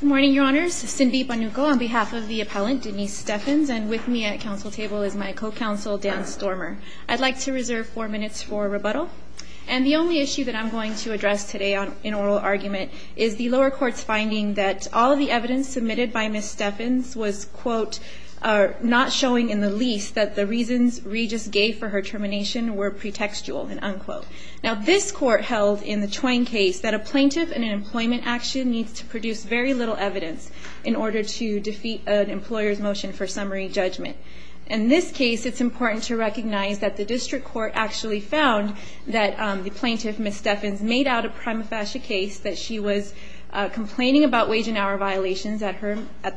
Good morning, Your Honors. Cindy Bonuco on behalf of the appellant, Denise Steffens, and with me at council table is my co-counsel, Dan Stormer. I'd like to reserve four minutes for rebuttal. And the only issue that I'm going to address today in oral argument is the lower court's finding that all of the evidence submitted by Ms. Steffens was, quote, not showing in the least that the reasons Regis gave for her termination were pretextual, unquote. Now this court held in the Twain case that a plaintiff in an employment action needs to produce very little evidence in order to defeat an employer's motion for summary judgment. In this case, it's important to recognize that the district court actually found that the plaintiff, Ms. Steffens, made out a prima facie case that she was complaining about wage and hour violations at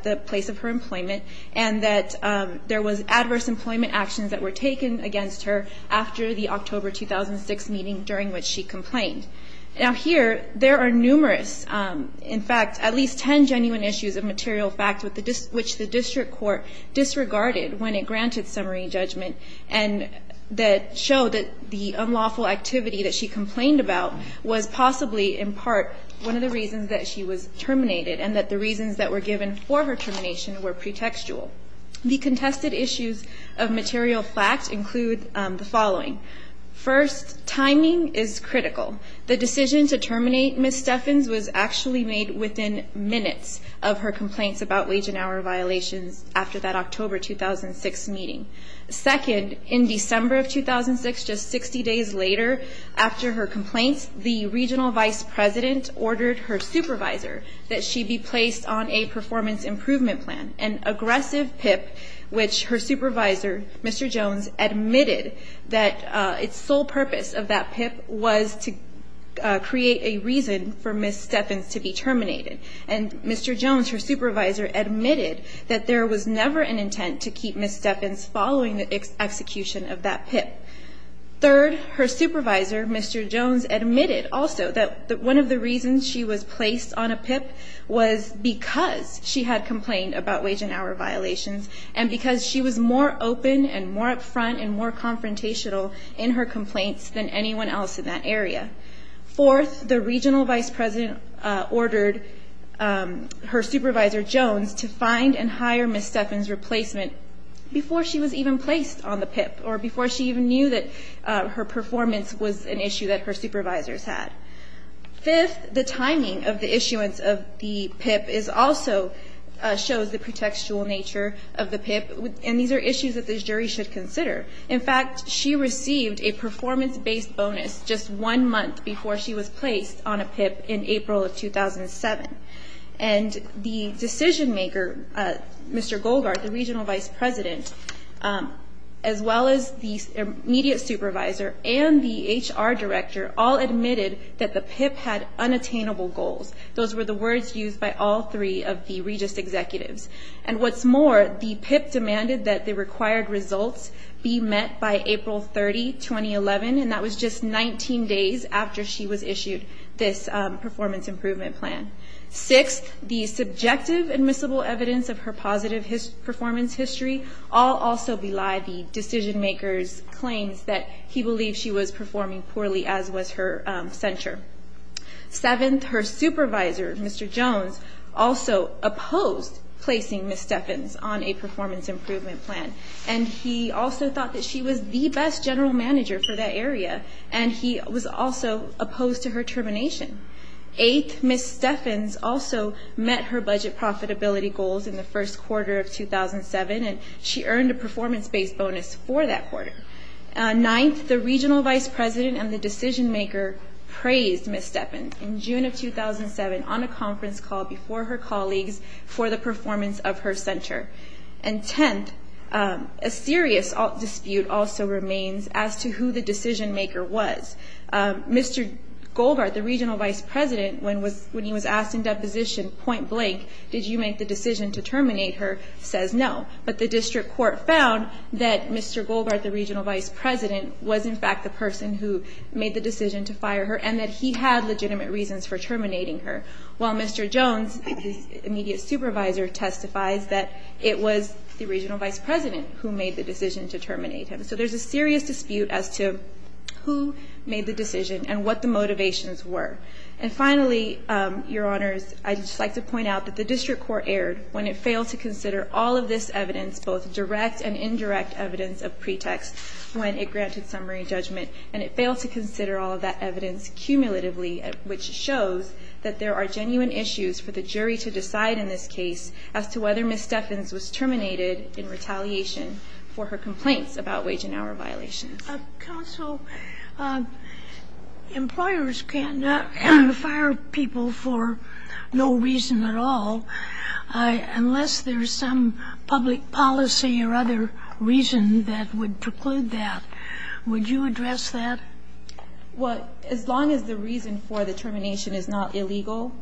the place of her employment and that there was adverse employment actions that were taken against her after the October 2006 meeting during which she complained. Now here, there are numerous, in fact, at least ten genuine issues of material fact which the district court disregarded when it granted summary judgment and that showed that the unlawful activity that she complained about was possibly, in part, one of the reasons that she was terminated and that the reasons that were given for her termination were pretextual. The contested issues of material fact include the following. First, timing is critical. The decision to terminate Ms. Steffens was actually made within minutes of her complaints about wage and hour violations after that October 2006 meeting. Second, in December of plan, an aggressive PIP which her supervisor, Mr. Jones, admitted that its sole purpose of that PIP was to create a reason for Ms. Steffens to be terminated. And Mr. Jones, her supervisor, admitted that there was never an intent to keep Ms. Steffens following the execution of that PIP. Third, her wage and hour violations and because she was more open and more up front and more confrontational in her complaints than anyone else in that area. Fourth, the regional vice president ordered her supervisor, Jones, to find and hire Ms. Steffens' replacement before she was even placed on the PIP or before she even knew that her performance was an issue that her supervisors had. Fifth, the timing of the issuance of the PIP is also shows the pretextual nature of the PIP and these are issues that the jury should consider. In fact, she received a performance-based bonus just one month before she was placed on a PIP in and the HR director all admitted that the PIP had unattainable goals. Those were the words used by all three of the Regis executives. And what's more, the PIP demanded that the required results be met by April 30, 2011 and that was just 19 days after she was issued this performance improvement plan. Sixth, the general manager of that area, Mr. Jones, also opposed placing Ms. Steffens on a performance improvement plan and he also thought that she was the best general manager for that area and he was also opposed to her termination. Eighth, Ms. Steffens also met her budget profitability goals in the first quarter of 2007 and she did. Ninth, the regional vice president and the decision maker praised Ms. Steffens in June of 2007 on a conference call before her colleagues for the performance of her center. And tenth, a serious dispute also remains as to who the decision maker was. Mr. Goldbart, the regional vice president, when he was asked in deposition point blank, did you make the decision to terminate her, says no. But the district court found that Mr. Goldbart, the regional vice president, was in fact the person who made the decision to fire her and that he had legitimate reasons for terminating her, while Mr. Jones, his immediate supervisor, testifies that it was the regional vice president who made the decision to terminate him. So there's a serious dispute as to who made the decision and what the motivations were. And finally, your honors, I'd just like to point out that the district court erred when it failed to consider all of this evidence cumulatively, which shows that there are genuine issues for the jury to decide in this case as to whether Ms. Steffens was terminated in retaliation for her complaints about wage and hour violations. Counsel, employers can't fire people for no reason at all unless there's some public policy or other reason that would preclude that. Would you address that? Well, as long as the reason for the termination is not illegal,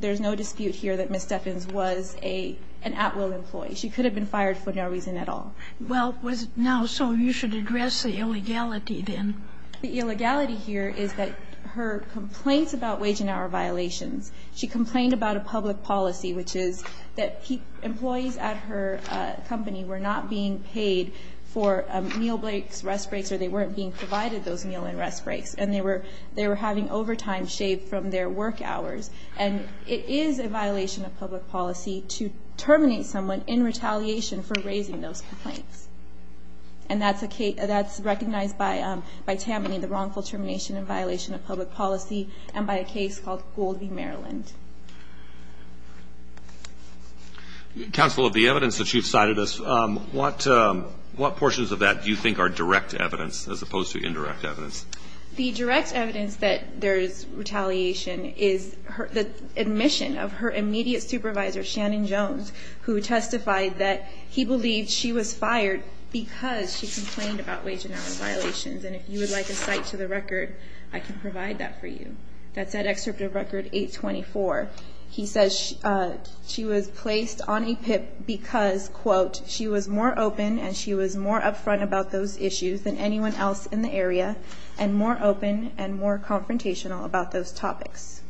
there's no dispute here that Ms. Steffens was an at-will employee. She could have been fired for no reason at all. Well, now, so you should address the illegality, then. The illegality here is that her complaints about wage and hour violations, she complained about a public policy, which is that employees at her company were not being paid for meal breaks, rest breaks, or they weren't being provided those meal and rest breaks, and they were having overtime shaved from their work hours. And it is a violation of public policy to terminate someone in retaliation for raising those complaints. And that's recognized by Tammany, the wrongful termination in violation of public policy, and by a case called Goldby, Maryland. Counsel, of the evidence that you've cited us, what portions of that do you think are direct evidence as opposed to indirect evidence? The direct evidence that there's retaliation is the admission of her immediate supervisor, Shannon Jones, who testified that he believed she was fired because she complained about wage and hour violations. And if you would like a cite to the record, I can provide that for you. That's that excerpt of record 824. He says she was placed on a PIP because, quote, she was more open and she was more upfront about those issues than anyone else in the area, and more open and more confrontational about those topics.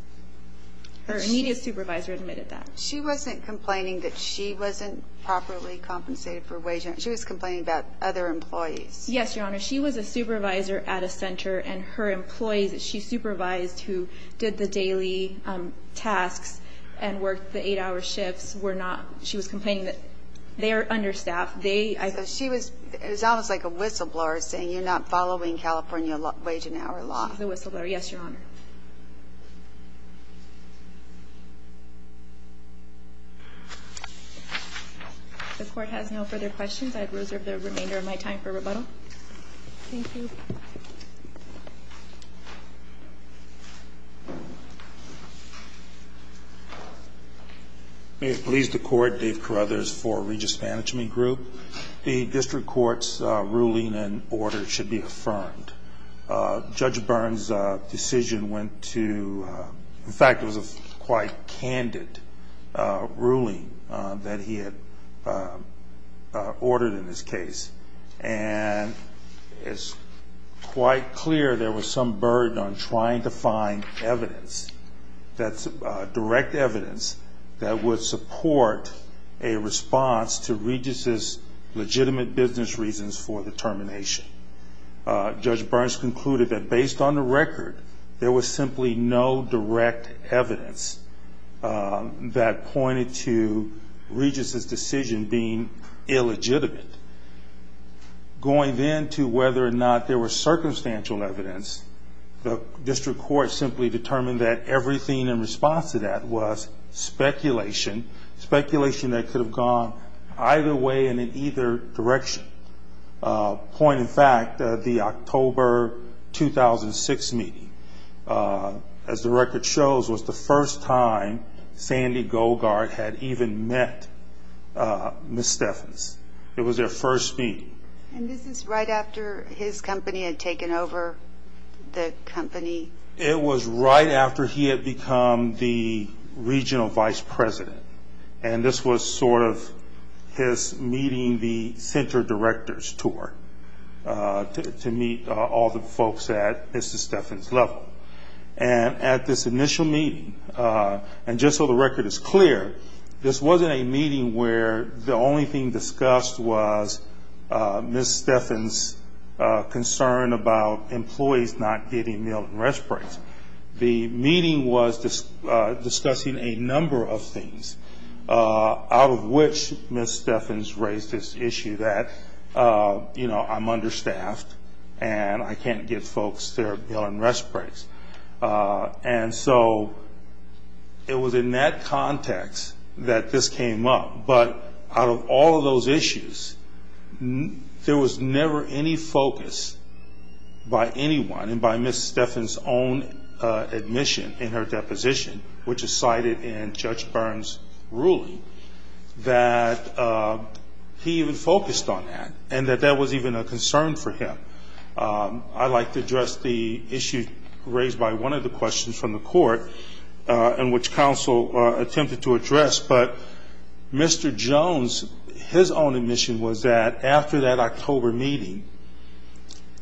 Her immediate supervisor admitted that. She wasn't complaining that she wasn't properly compensated for wage and hour. She was complaining about other employees. Yes, Your Honor. She was a supervisor at a center, and her employees that she supervised, who did the daily tasks and worked the eight-hour shifts, were not. She was complaining that they are understaffed. She was almost like a whistleblower saying you're not following California wage and hour law. She's a whistleblower. Yes, Your Honor. If the Court has no further questions, I reserve the remainder of my time for rebuttal. Thank you. May it please the Court, Dave Carruthers for Regis Management Group. The district court's ruling and order should be affirmed. Judge Byrne's decision went to, in fact, it was a quite candid ruling that he had ordered in this case, and it's quite clear there was some burden on trying to find evidence, direct evidence, that would support a response to Regis's legitimate business reasons for the termination. Judge Byrne's concluded that based on the record, there was simply no direct evidence that pointed to Regis's decision being illegitimate. Going then to whether or not there was circumstantial evidence, the district court simply determined that everything in response to that was speculation, speculation that could have gone either way and in either direction. Point in fact, the October 2006 meeting, as the record shows, was the first time Sandy Goldgard had even met Ms. Stephens. It was their first meeting. And this is right after his company had taken over the company? It was right after he had become the regional vice president. And this was sort of his meeting the center directors tour to meet all the folks at Ms. Stephens' level. And at this initial meeting, and just so the record is clear, this wasn't a meeting where the only thing discussed was Ms. Stephens' concern about employees not getting meal and rest breaks. The meeting was discussing a number of things, out of which Ms. Stephens raised this issue that, you know, I'm understaffed and I can't get folks their meal and rest breaks. And so it was in that context that this came up. But out of all of those issues, there was never any focus by anyone and by Ms. Stephens' own admission in her deposition, which is cited in Judge Byrne's ruling, that he even focused on that and that that was even a concern for him. I'd like to address the issue raised by one of the questions from the court in which counsel attempted to address, but Mr. Jones, his own admission was that after that October meeting,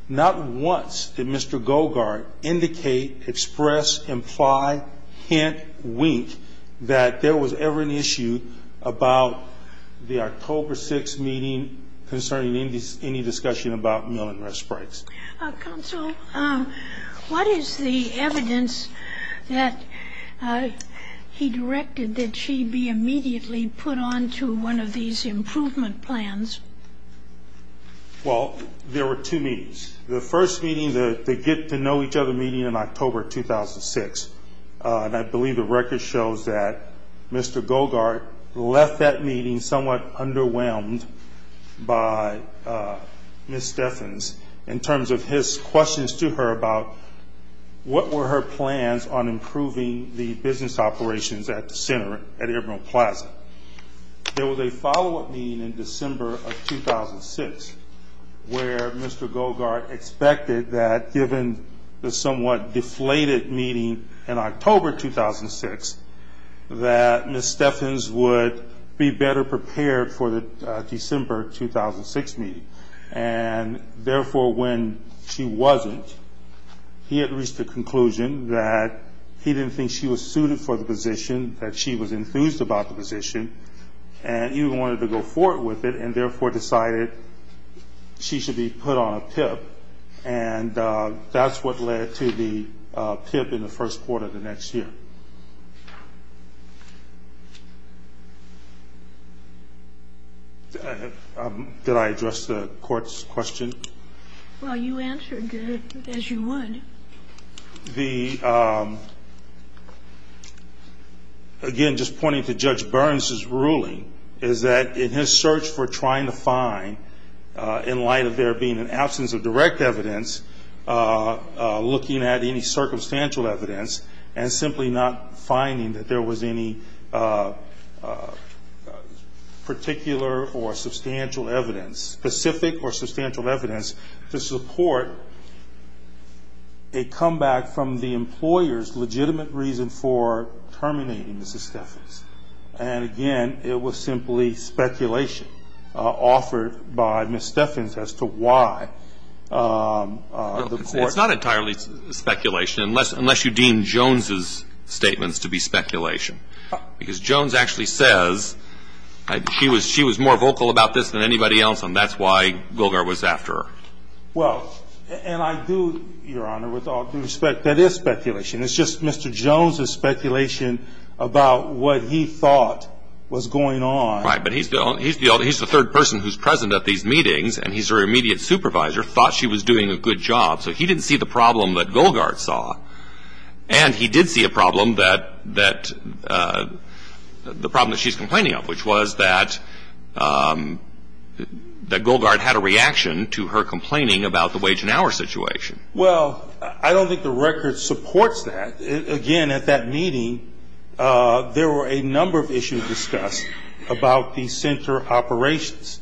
not once did Mr. Gogart indicate, express, imply, hint, wink that there was ever an issue about the October 6th meeting concerning any discussion about meal and rest breaks. Counsel, what is the evidence that he directed that she be immediately put on to one of these improvement plans? Well, there were two meetings. The first meeting, the get-to-know-each-other meeting in October 2006, and I believe the record shows that Mr. Jones, in terms of his questions to her about what were her plans on improving the business operations at the center, at Ibram Plaza. There was a follow-up meeting in December of 2006, where Mr. Gogart expected that given the somewhat deflated meeting in October 2006, that Ms. Stephens would be better prepared for the December 2006 meeting. And therefore, when she wasn't, he had reached the conclusion that he didn't think she was suited for the position, that she was enthused about the position, and he wanted to go forward with it, and therefore decided she should be put on a PIP. And that's what led to the PIP in the first quarter of the next year. Did I address the Court's question? Well, you answered it as you would. Again, just pointing to Judge Burns's ruling, is that in his search for trying to find, in light of there being an absence of direct evidence, looking at any circumstantial evidence, and simply not finding the evidence, he was unable to find the evidence that there was any particular or substantial evidence, specific or substantial evidence, to support a comeback from the employer's legitimate reason for terminating Ms. Stephens. And again, it was simply speculation offered by Ms. Stephens as to why the Court decided to terminate Ms. Stephens. It's not entirely speculation, unless you deem Jones' statements to be speculation. Because Jones actually says she was more vocal about this than anybody else, and that's why Golgar was after her. Well, and I do, Your Honor, with all due respect, that is speculation. It's just Mr. Jones' speculation about what he thought was going on. Right, but he's the third person who's present at these meetings, and he's her immediate supervisor, thought she was doing a good job. So he didn't see the problem that Golgar saw. And he did see a problem that she's complaining of, which was that Golgar had a reaction to her complaining about the wage and hour situation. Well, I don't think the record supports that. Again, at that meeting, there were a number of issues discussed about the center operations.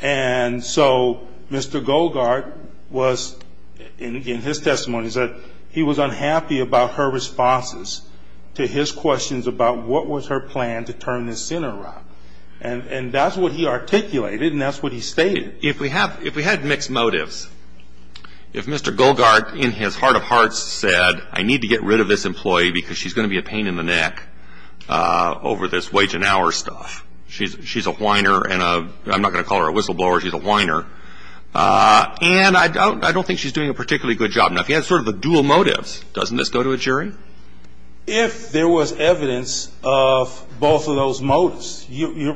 And so Mr. Golgar was, in his testimony, he said he was unhappy about her responses to his questions about what was her plan to turn this center around. And that's what he articulated, and that's what he stated. If we had mixed motives, if Mr. Golgar, in his heart of hearts, said, I need to get rid of this employee because she's going to be a pain in the neck over this wage and hour stuff, she's a whiner, I'm not going to call her a whistleblower, she's a whiner. And I don't think she's doing a particularly good job. Now, if you had sort of a dual motive, doesn't this go to a jury? If there was evidence of both of those motives,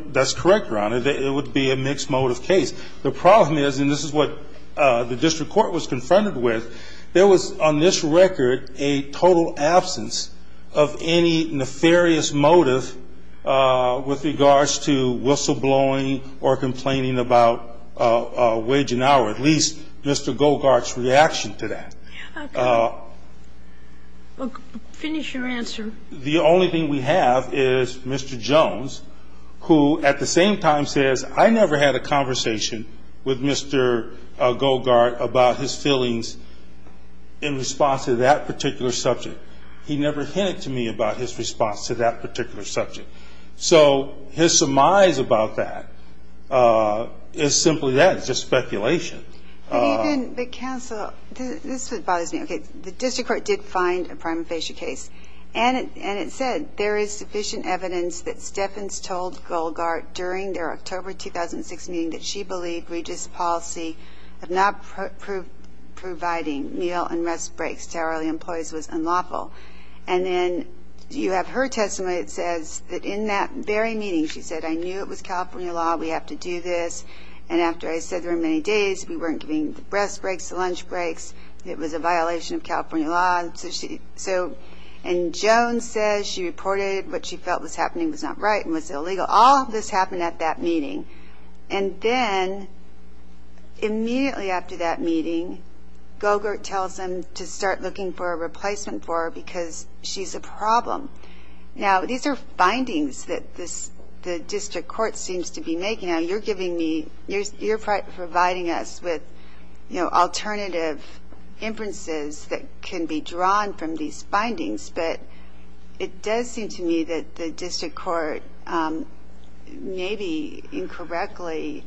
that's correct, Your Honor, that it would be a mixed motive case. The problem is, and this is what the district court was confronted with, there was, on this record, a total absence of any nefarious motive with regards to whistleblowing or complaining about the wage and hour situation. At least, Mr. Golgar's reaction to that. Finish your answer. The only thing we have is Mr. Jones, who at the same time says, I never had a conversation with Mr. Golgar about his feelings in response to that particular subject. He never hinted to me about his response to that particular subject. So his surmise about that is simply that, it's just speculation. But even, but counsel, this is what bothers me. Okay, the district court did find a prima facie case, and it said, there is sufficient evidence that Stephens told Golgar during their October 2006 meeting that she believed Regis' policy of not providing meal and rest breaks to hourly employees was unlawful. And then you have her testimony that says that in that very meeting, she said, I knew it was California law, we have to do this. And after I said there were many days, we weren't giving the rest breaks, the lunch breaks, it was a violation of California law. So, and Jones says she reported what she felt was happening was not right and was illegal. And then, immediately after that meeting, Golgar tells them to start looking for a replacement for her because she's a problem. Now, these are findings that the district court seems to be making. Now, you're giving me, you're providing us with alternative inferences that can be drawn from these findings, but it does seem to me that the district court may be incorporating some of these findings. And I don't know that the district court has directly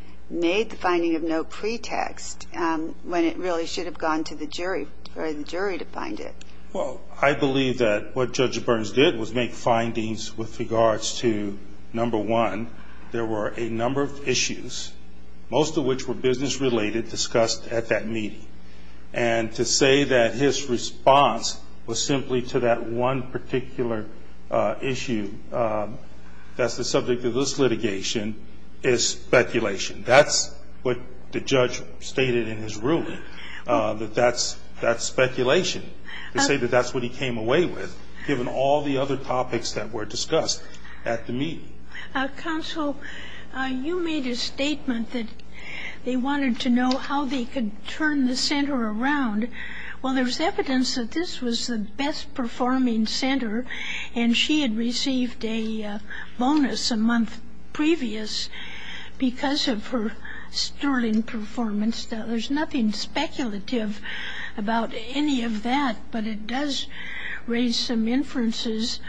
made the finding of no pretext when it really should have gone to the jury, or the jury to find it. Well, I believe that what Judge Burns did was make findings with regards to, number one, there were a number of issues, most of which were business related, discussed at that meeting. And to say that his response was simply to that one particular issue that's the subject of this litigation is simply not correct. It's speculation. That's what the judge stated in his ruling, that that's speculation. To say that that's what he came away with, given all the other topics that were discussed at the meeting. Counsel, you made a statement that they wanted to know how they could turn the center around. Well, there's evidence that this was the best-performing center, and she had received a bonus a month previous to that. Because of her sterling performance, there's nothing speculative about any of that. But it does raise some inferences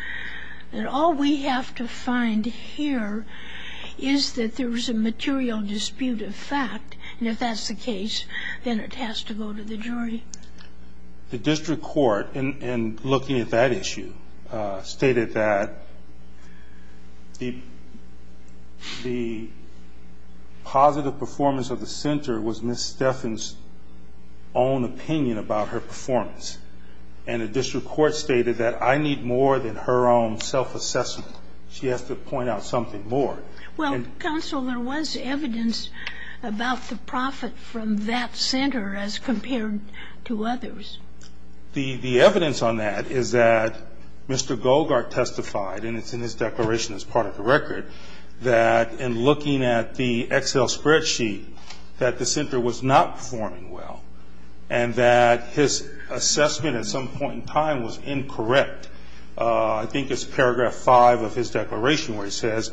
that all we have to find here is that there was a material dispute of fact. And if that's the case, then it has to go to the jury. The district court, in looking at that issue, stated that the, the, the, the, the fact that it was the best-performing center, positive performance of the center was Ms. Steffens' own opinion about her performance. And the district court stated that I need more than her own self-assessment. She has to point out something more. Well, counsel, there was evidence about the profit from that center as compared to others. The, the evidence on that is that Mr. Golgart testified, and it's in his declaration as part of the record, the Excel spreadsheet, that the center was not performing well, and that his assessment at some point in time was incorrect. I think it's paragraph five of his declaration where he says,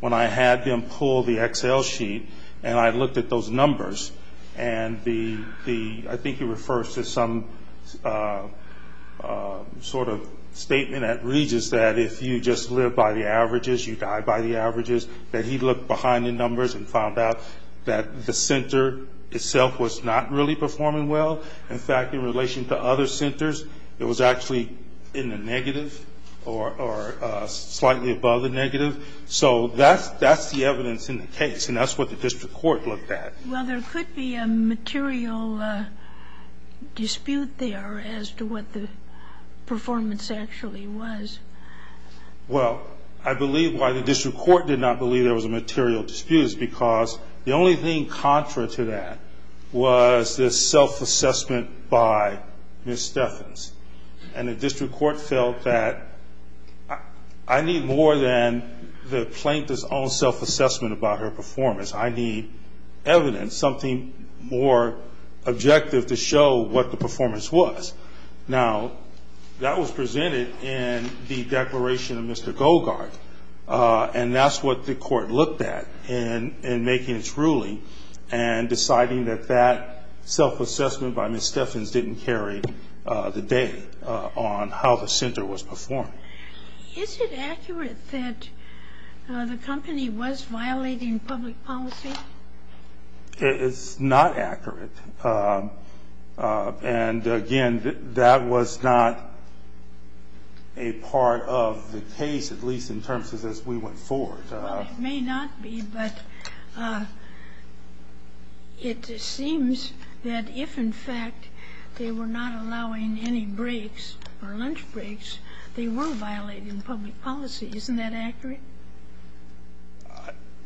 when I had them pull the Excel sheet and I looked at those numbers, and the, the, I think he refers to some sort of statement at Regence that if you just live by the averages, you die by the averages, that he looked behind the numbers and found out that the center itself was not really performing well. In fact, in relation to other centers, it was actually in the negative or, or slightly above the negative. So that's, that's the evidence in the case, and that's what the district court looked at. Well, there could be a material dispute there as to what the performance actually was. Well, I believe why the district court did not believe there was a material dispute is because the only thing contra to that was this self-assessment by Ms. Steffens, and the district court felt that I need more than the plaintiff's own self-assessment about her performance. I need evidence, something more objective to show what the performance was. Now, that was presented in the declaration of Mr. Goldgart, and that's what the court looked at in, in making its ruling, and deciding that that self-assessment by Ms. Steffens didn't carry the day on how the center was performing. Is it accurate that the company was violating public policy? It's not accurate, and again, that was not a part of the case, at least in terms of as we went forward. Well, it may not be, but it seems that if, in fact, they were not allowing any breaks or lunch breaks, they were violating public policy. Isn't that accurate?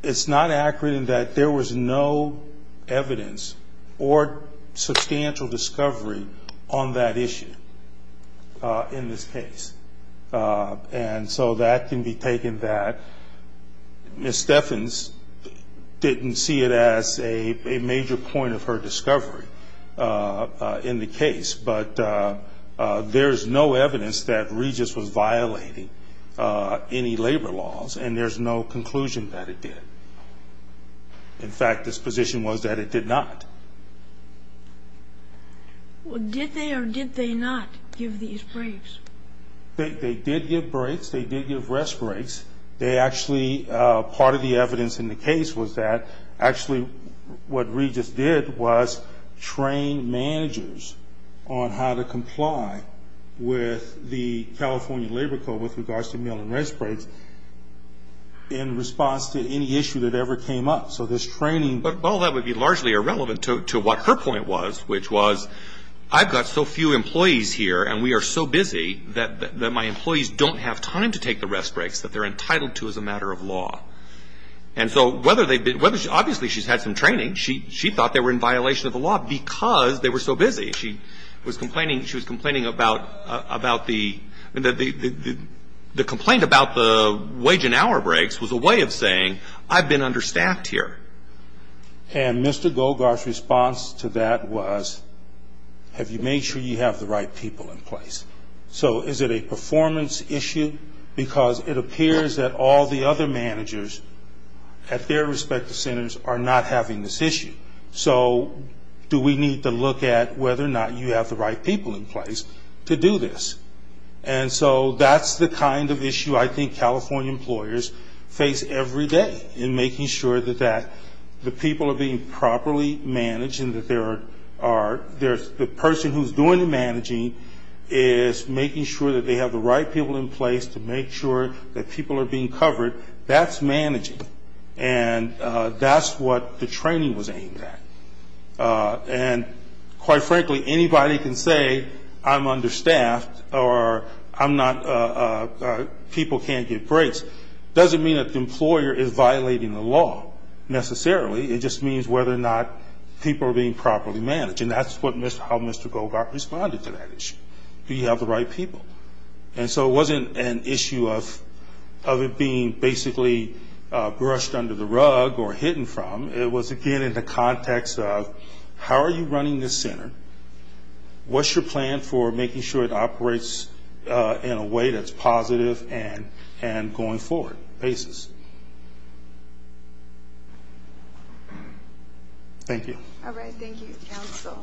There was no evidence or substantial discovery on that issue in this case, and so that can be taken back. Ms. Steffens didn't see it as a major point of her discovery in the case, but there's no evidence that Regis was violating any labor laws, and there's no conclusion that it did. In fact, this position was that it did not. Well, did they or did they not give these breaks? They did give breaks. They did give rest breaks. They actually, part of the evidence in the case was that actually what Regis did was train managers on how to comply with the California Labor Code with regards to meal and rest breaks. And in response to any issue that ever came up, so this training. Well, that would be largely irrelevant to what her point was, which was I've got so few employees here and we are so busy that my employees don't have time to take the rest breaks that they're entitled to as a matter of law. And so whether they've been, obviously she's had some training. She thought they were in violation of the law because they were so busy. She was complaining, she was complaining about the, the complaint about the wage and hour breaks. It was a way of saying, I've been understaffed here. And Mr. Golgar's response to that was, have you made sure you have the right people in place? So is it a performance issue? Because it appears that all the other managers at their respective centers are not having this issue. So do we need to look at whether or not you have the right people in place to do this? And so that's the kind of issue I think California employers face every day in making sure that the people are being properly managed and that the person who's doing the managing is making sure that they have the right people in place to make sure that people are being covered. That's managing. And that's what the training was aimed at. And quite frankly, anybody can say I'm understaffed or I'm not, people can't get breaks. Doesn't mean that the employer is violating the law necessarily. It just means whether or not people are being properly managed. And that's how Mr. Golgar responded to that issue. Do you have the right people? And so it wasn't an issue of it being basically brushed under the rug or hidden from. It was again in the context of how are you running this center? What's your plan for making sure it operates in a way that's positive and going forward basis? Thank you. All right. Thank you, counsel.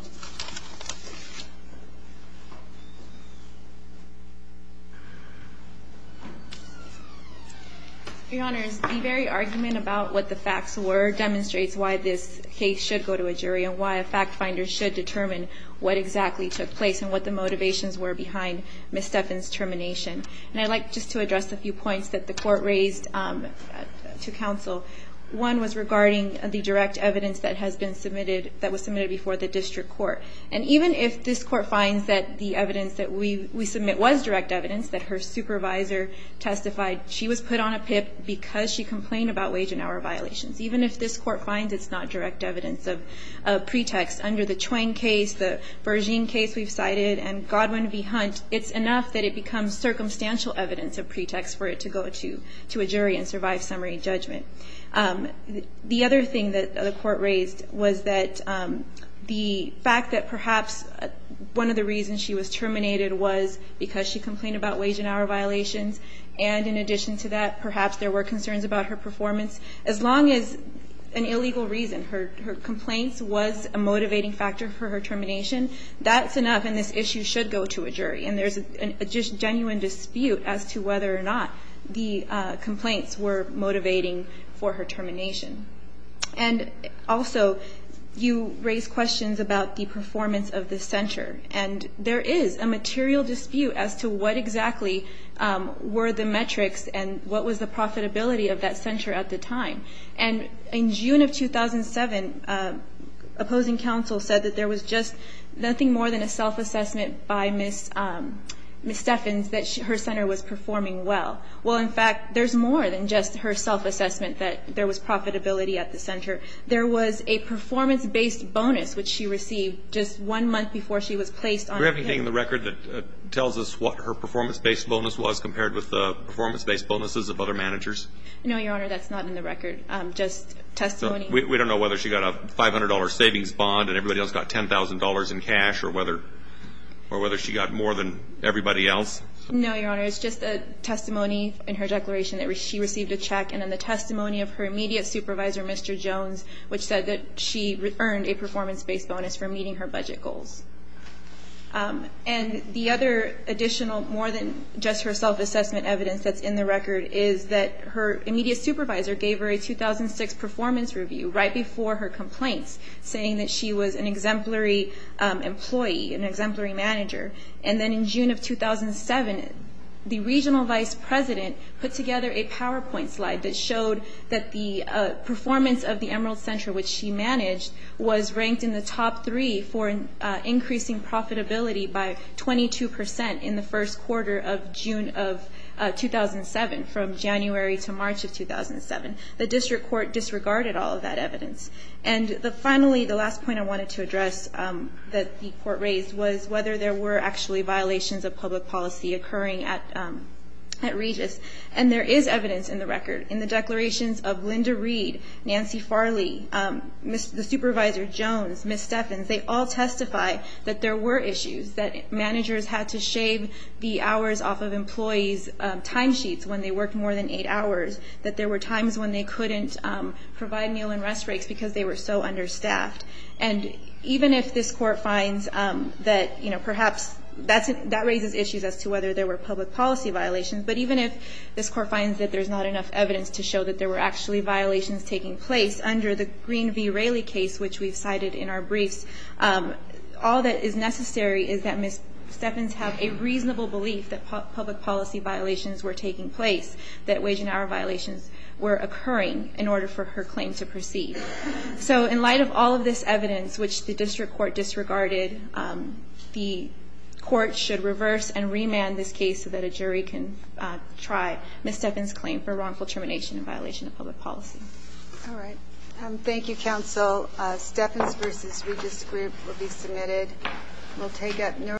Your honors, the very argument about what the facts were demonstrates why this case should go to a jury and why a fact finder should determine what exactly took place and what the motivations were behind Ms. Stephan's termination. And I'd like just to address a few points that the court raised to counsel. One was regarding the direct evidence that was submitted before the district court. And even if this court finds that the evidence that we submit was direct evidence, that her supervisor testified she was put on a PIP because she complained about wage and hour violations, even if this court finds it's not direct evidence of pretext under the Chuang case, the Berzine case we've cited, and Godwin v. Hunt, it's enough that it becomes circumstantial evidence of judgment. The other thing that the court raised was that the fact that perhaps one of the reasons she was terminated was because she complained about wage and hour violations. And in addition to that, perhaps there were concerns about her performance. As long as an illegal reason, her complaints, was a motivating factor for her termination, that's enough and this issue should go to a jury. And there's a genuine dispute as to whether or not the complaints were motivated or not. And also, you raised questions about the performance of the center. And there is a material dispute as to what exactly were the metrics and what was the profitability of that center at the time. And in June of 2007, opposing counsel said that there was just nothing more than a self-assessment by Ms. Steffens that her center was performing well. Well, in fact, there's more than just her self-assessment that there was profitability at the center. There was a performance-based bonus, which she received just one month before she was placed on the panel. Do we have anything in the record that tells us what her performance-based bonus was compared with the performance-based bonuses of other managers? No, Your Honor, that's not in the record. Just testimony. We don't know whether she got a $500 savings bond and everybody else got $10,000 in cash or whether she got more than everybody else? No, Your Honor, it's just a testimony in her declaration that she received a check and then the testimony of her immediate supervisor, Mr. Jones, which said that she earned a performance-based bonus for meeting her budget goals. And the other additional, more than just her self-assessment evidence that's in the record is that her immediate supervisor gave her a 2006 performance review right before her complaints, saying that she was an exemplary employee, an exemplary manager. And then in June of 2007, the regional vice president put together a PowerPoint slide that showed that the performance of the Emerald Center, which she managed, was ranked in the top three for increasing profitability by 22% in the first quarter of June of 2007, from January to March of 2007. The district court disregarded all of that evidence. And finally, the last point I wanted to address that the court raised was whether there were actually violations of public policy occurring at Regis. And there is evidence in the record. In the declarations of Linda Reed, Nancy Farley, the supervisor Jones, Ms. Steffens, they all testify that there were issues, that managers had to shave the hours off of employees' timesheets when they couldn't provide meal and rest breaks because they were so understaffed. And even if this court finds that, you know, perhaps that raises issues as to whether there were public policy violations. But even if this court finds that there's not enough evidence to show that there were actually violations taking place, under the Green v. Raley case, which we've cited in our briefs, all that is necessary is that Ms. Steffens have a reasonable belief that public policy violations were taking place, that wage and hour violations were occurring, in order for her claim to proceed. So in light of all of this evidence, which the district court disregarded, the court should reverse and remand this case so that a jury can try Ms. Steffens' claim for wrongful termination in violation of public policy.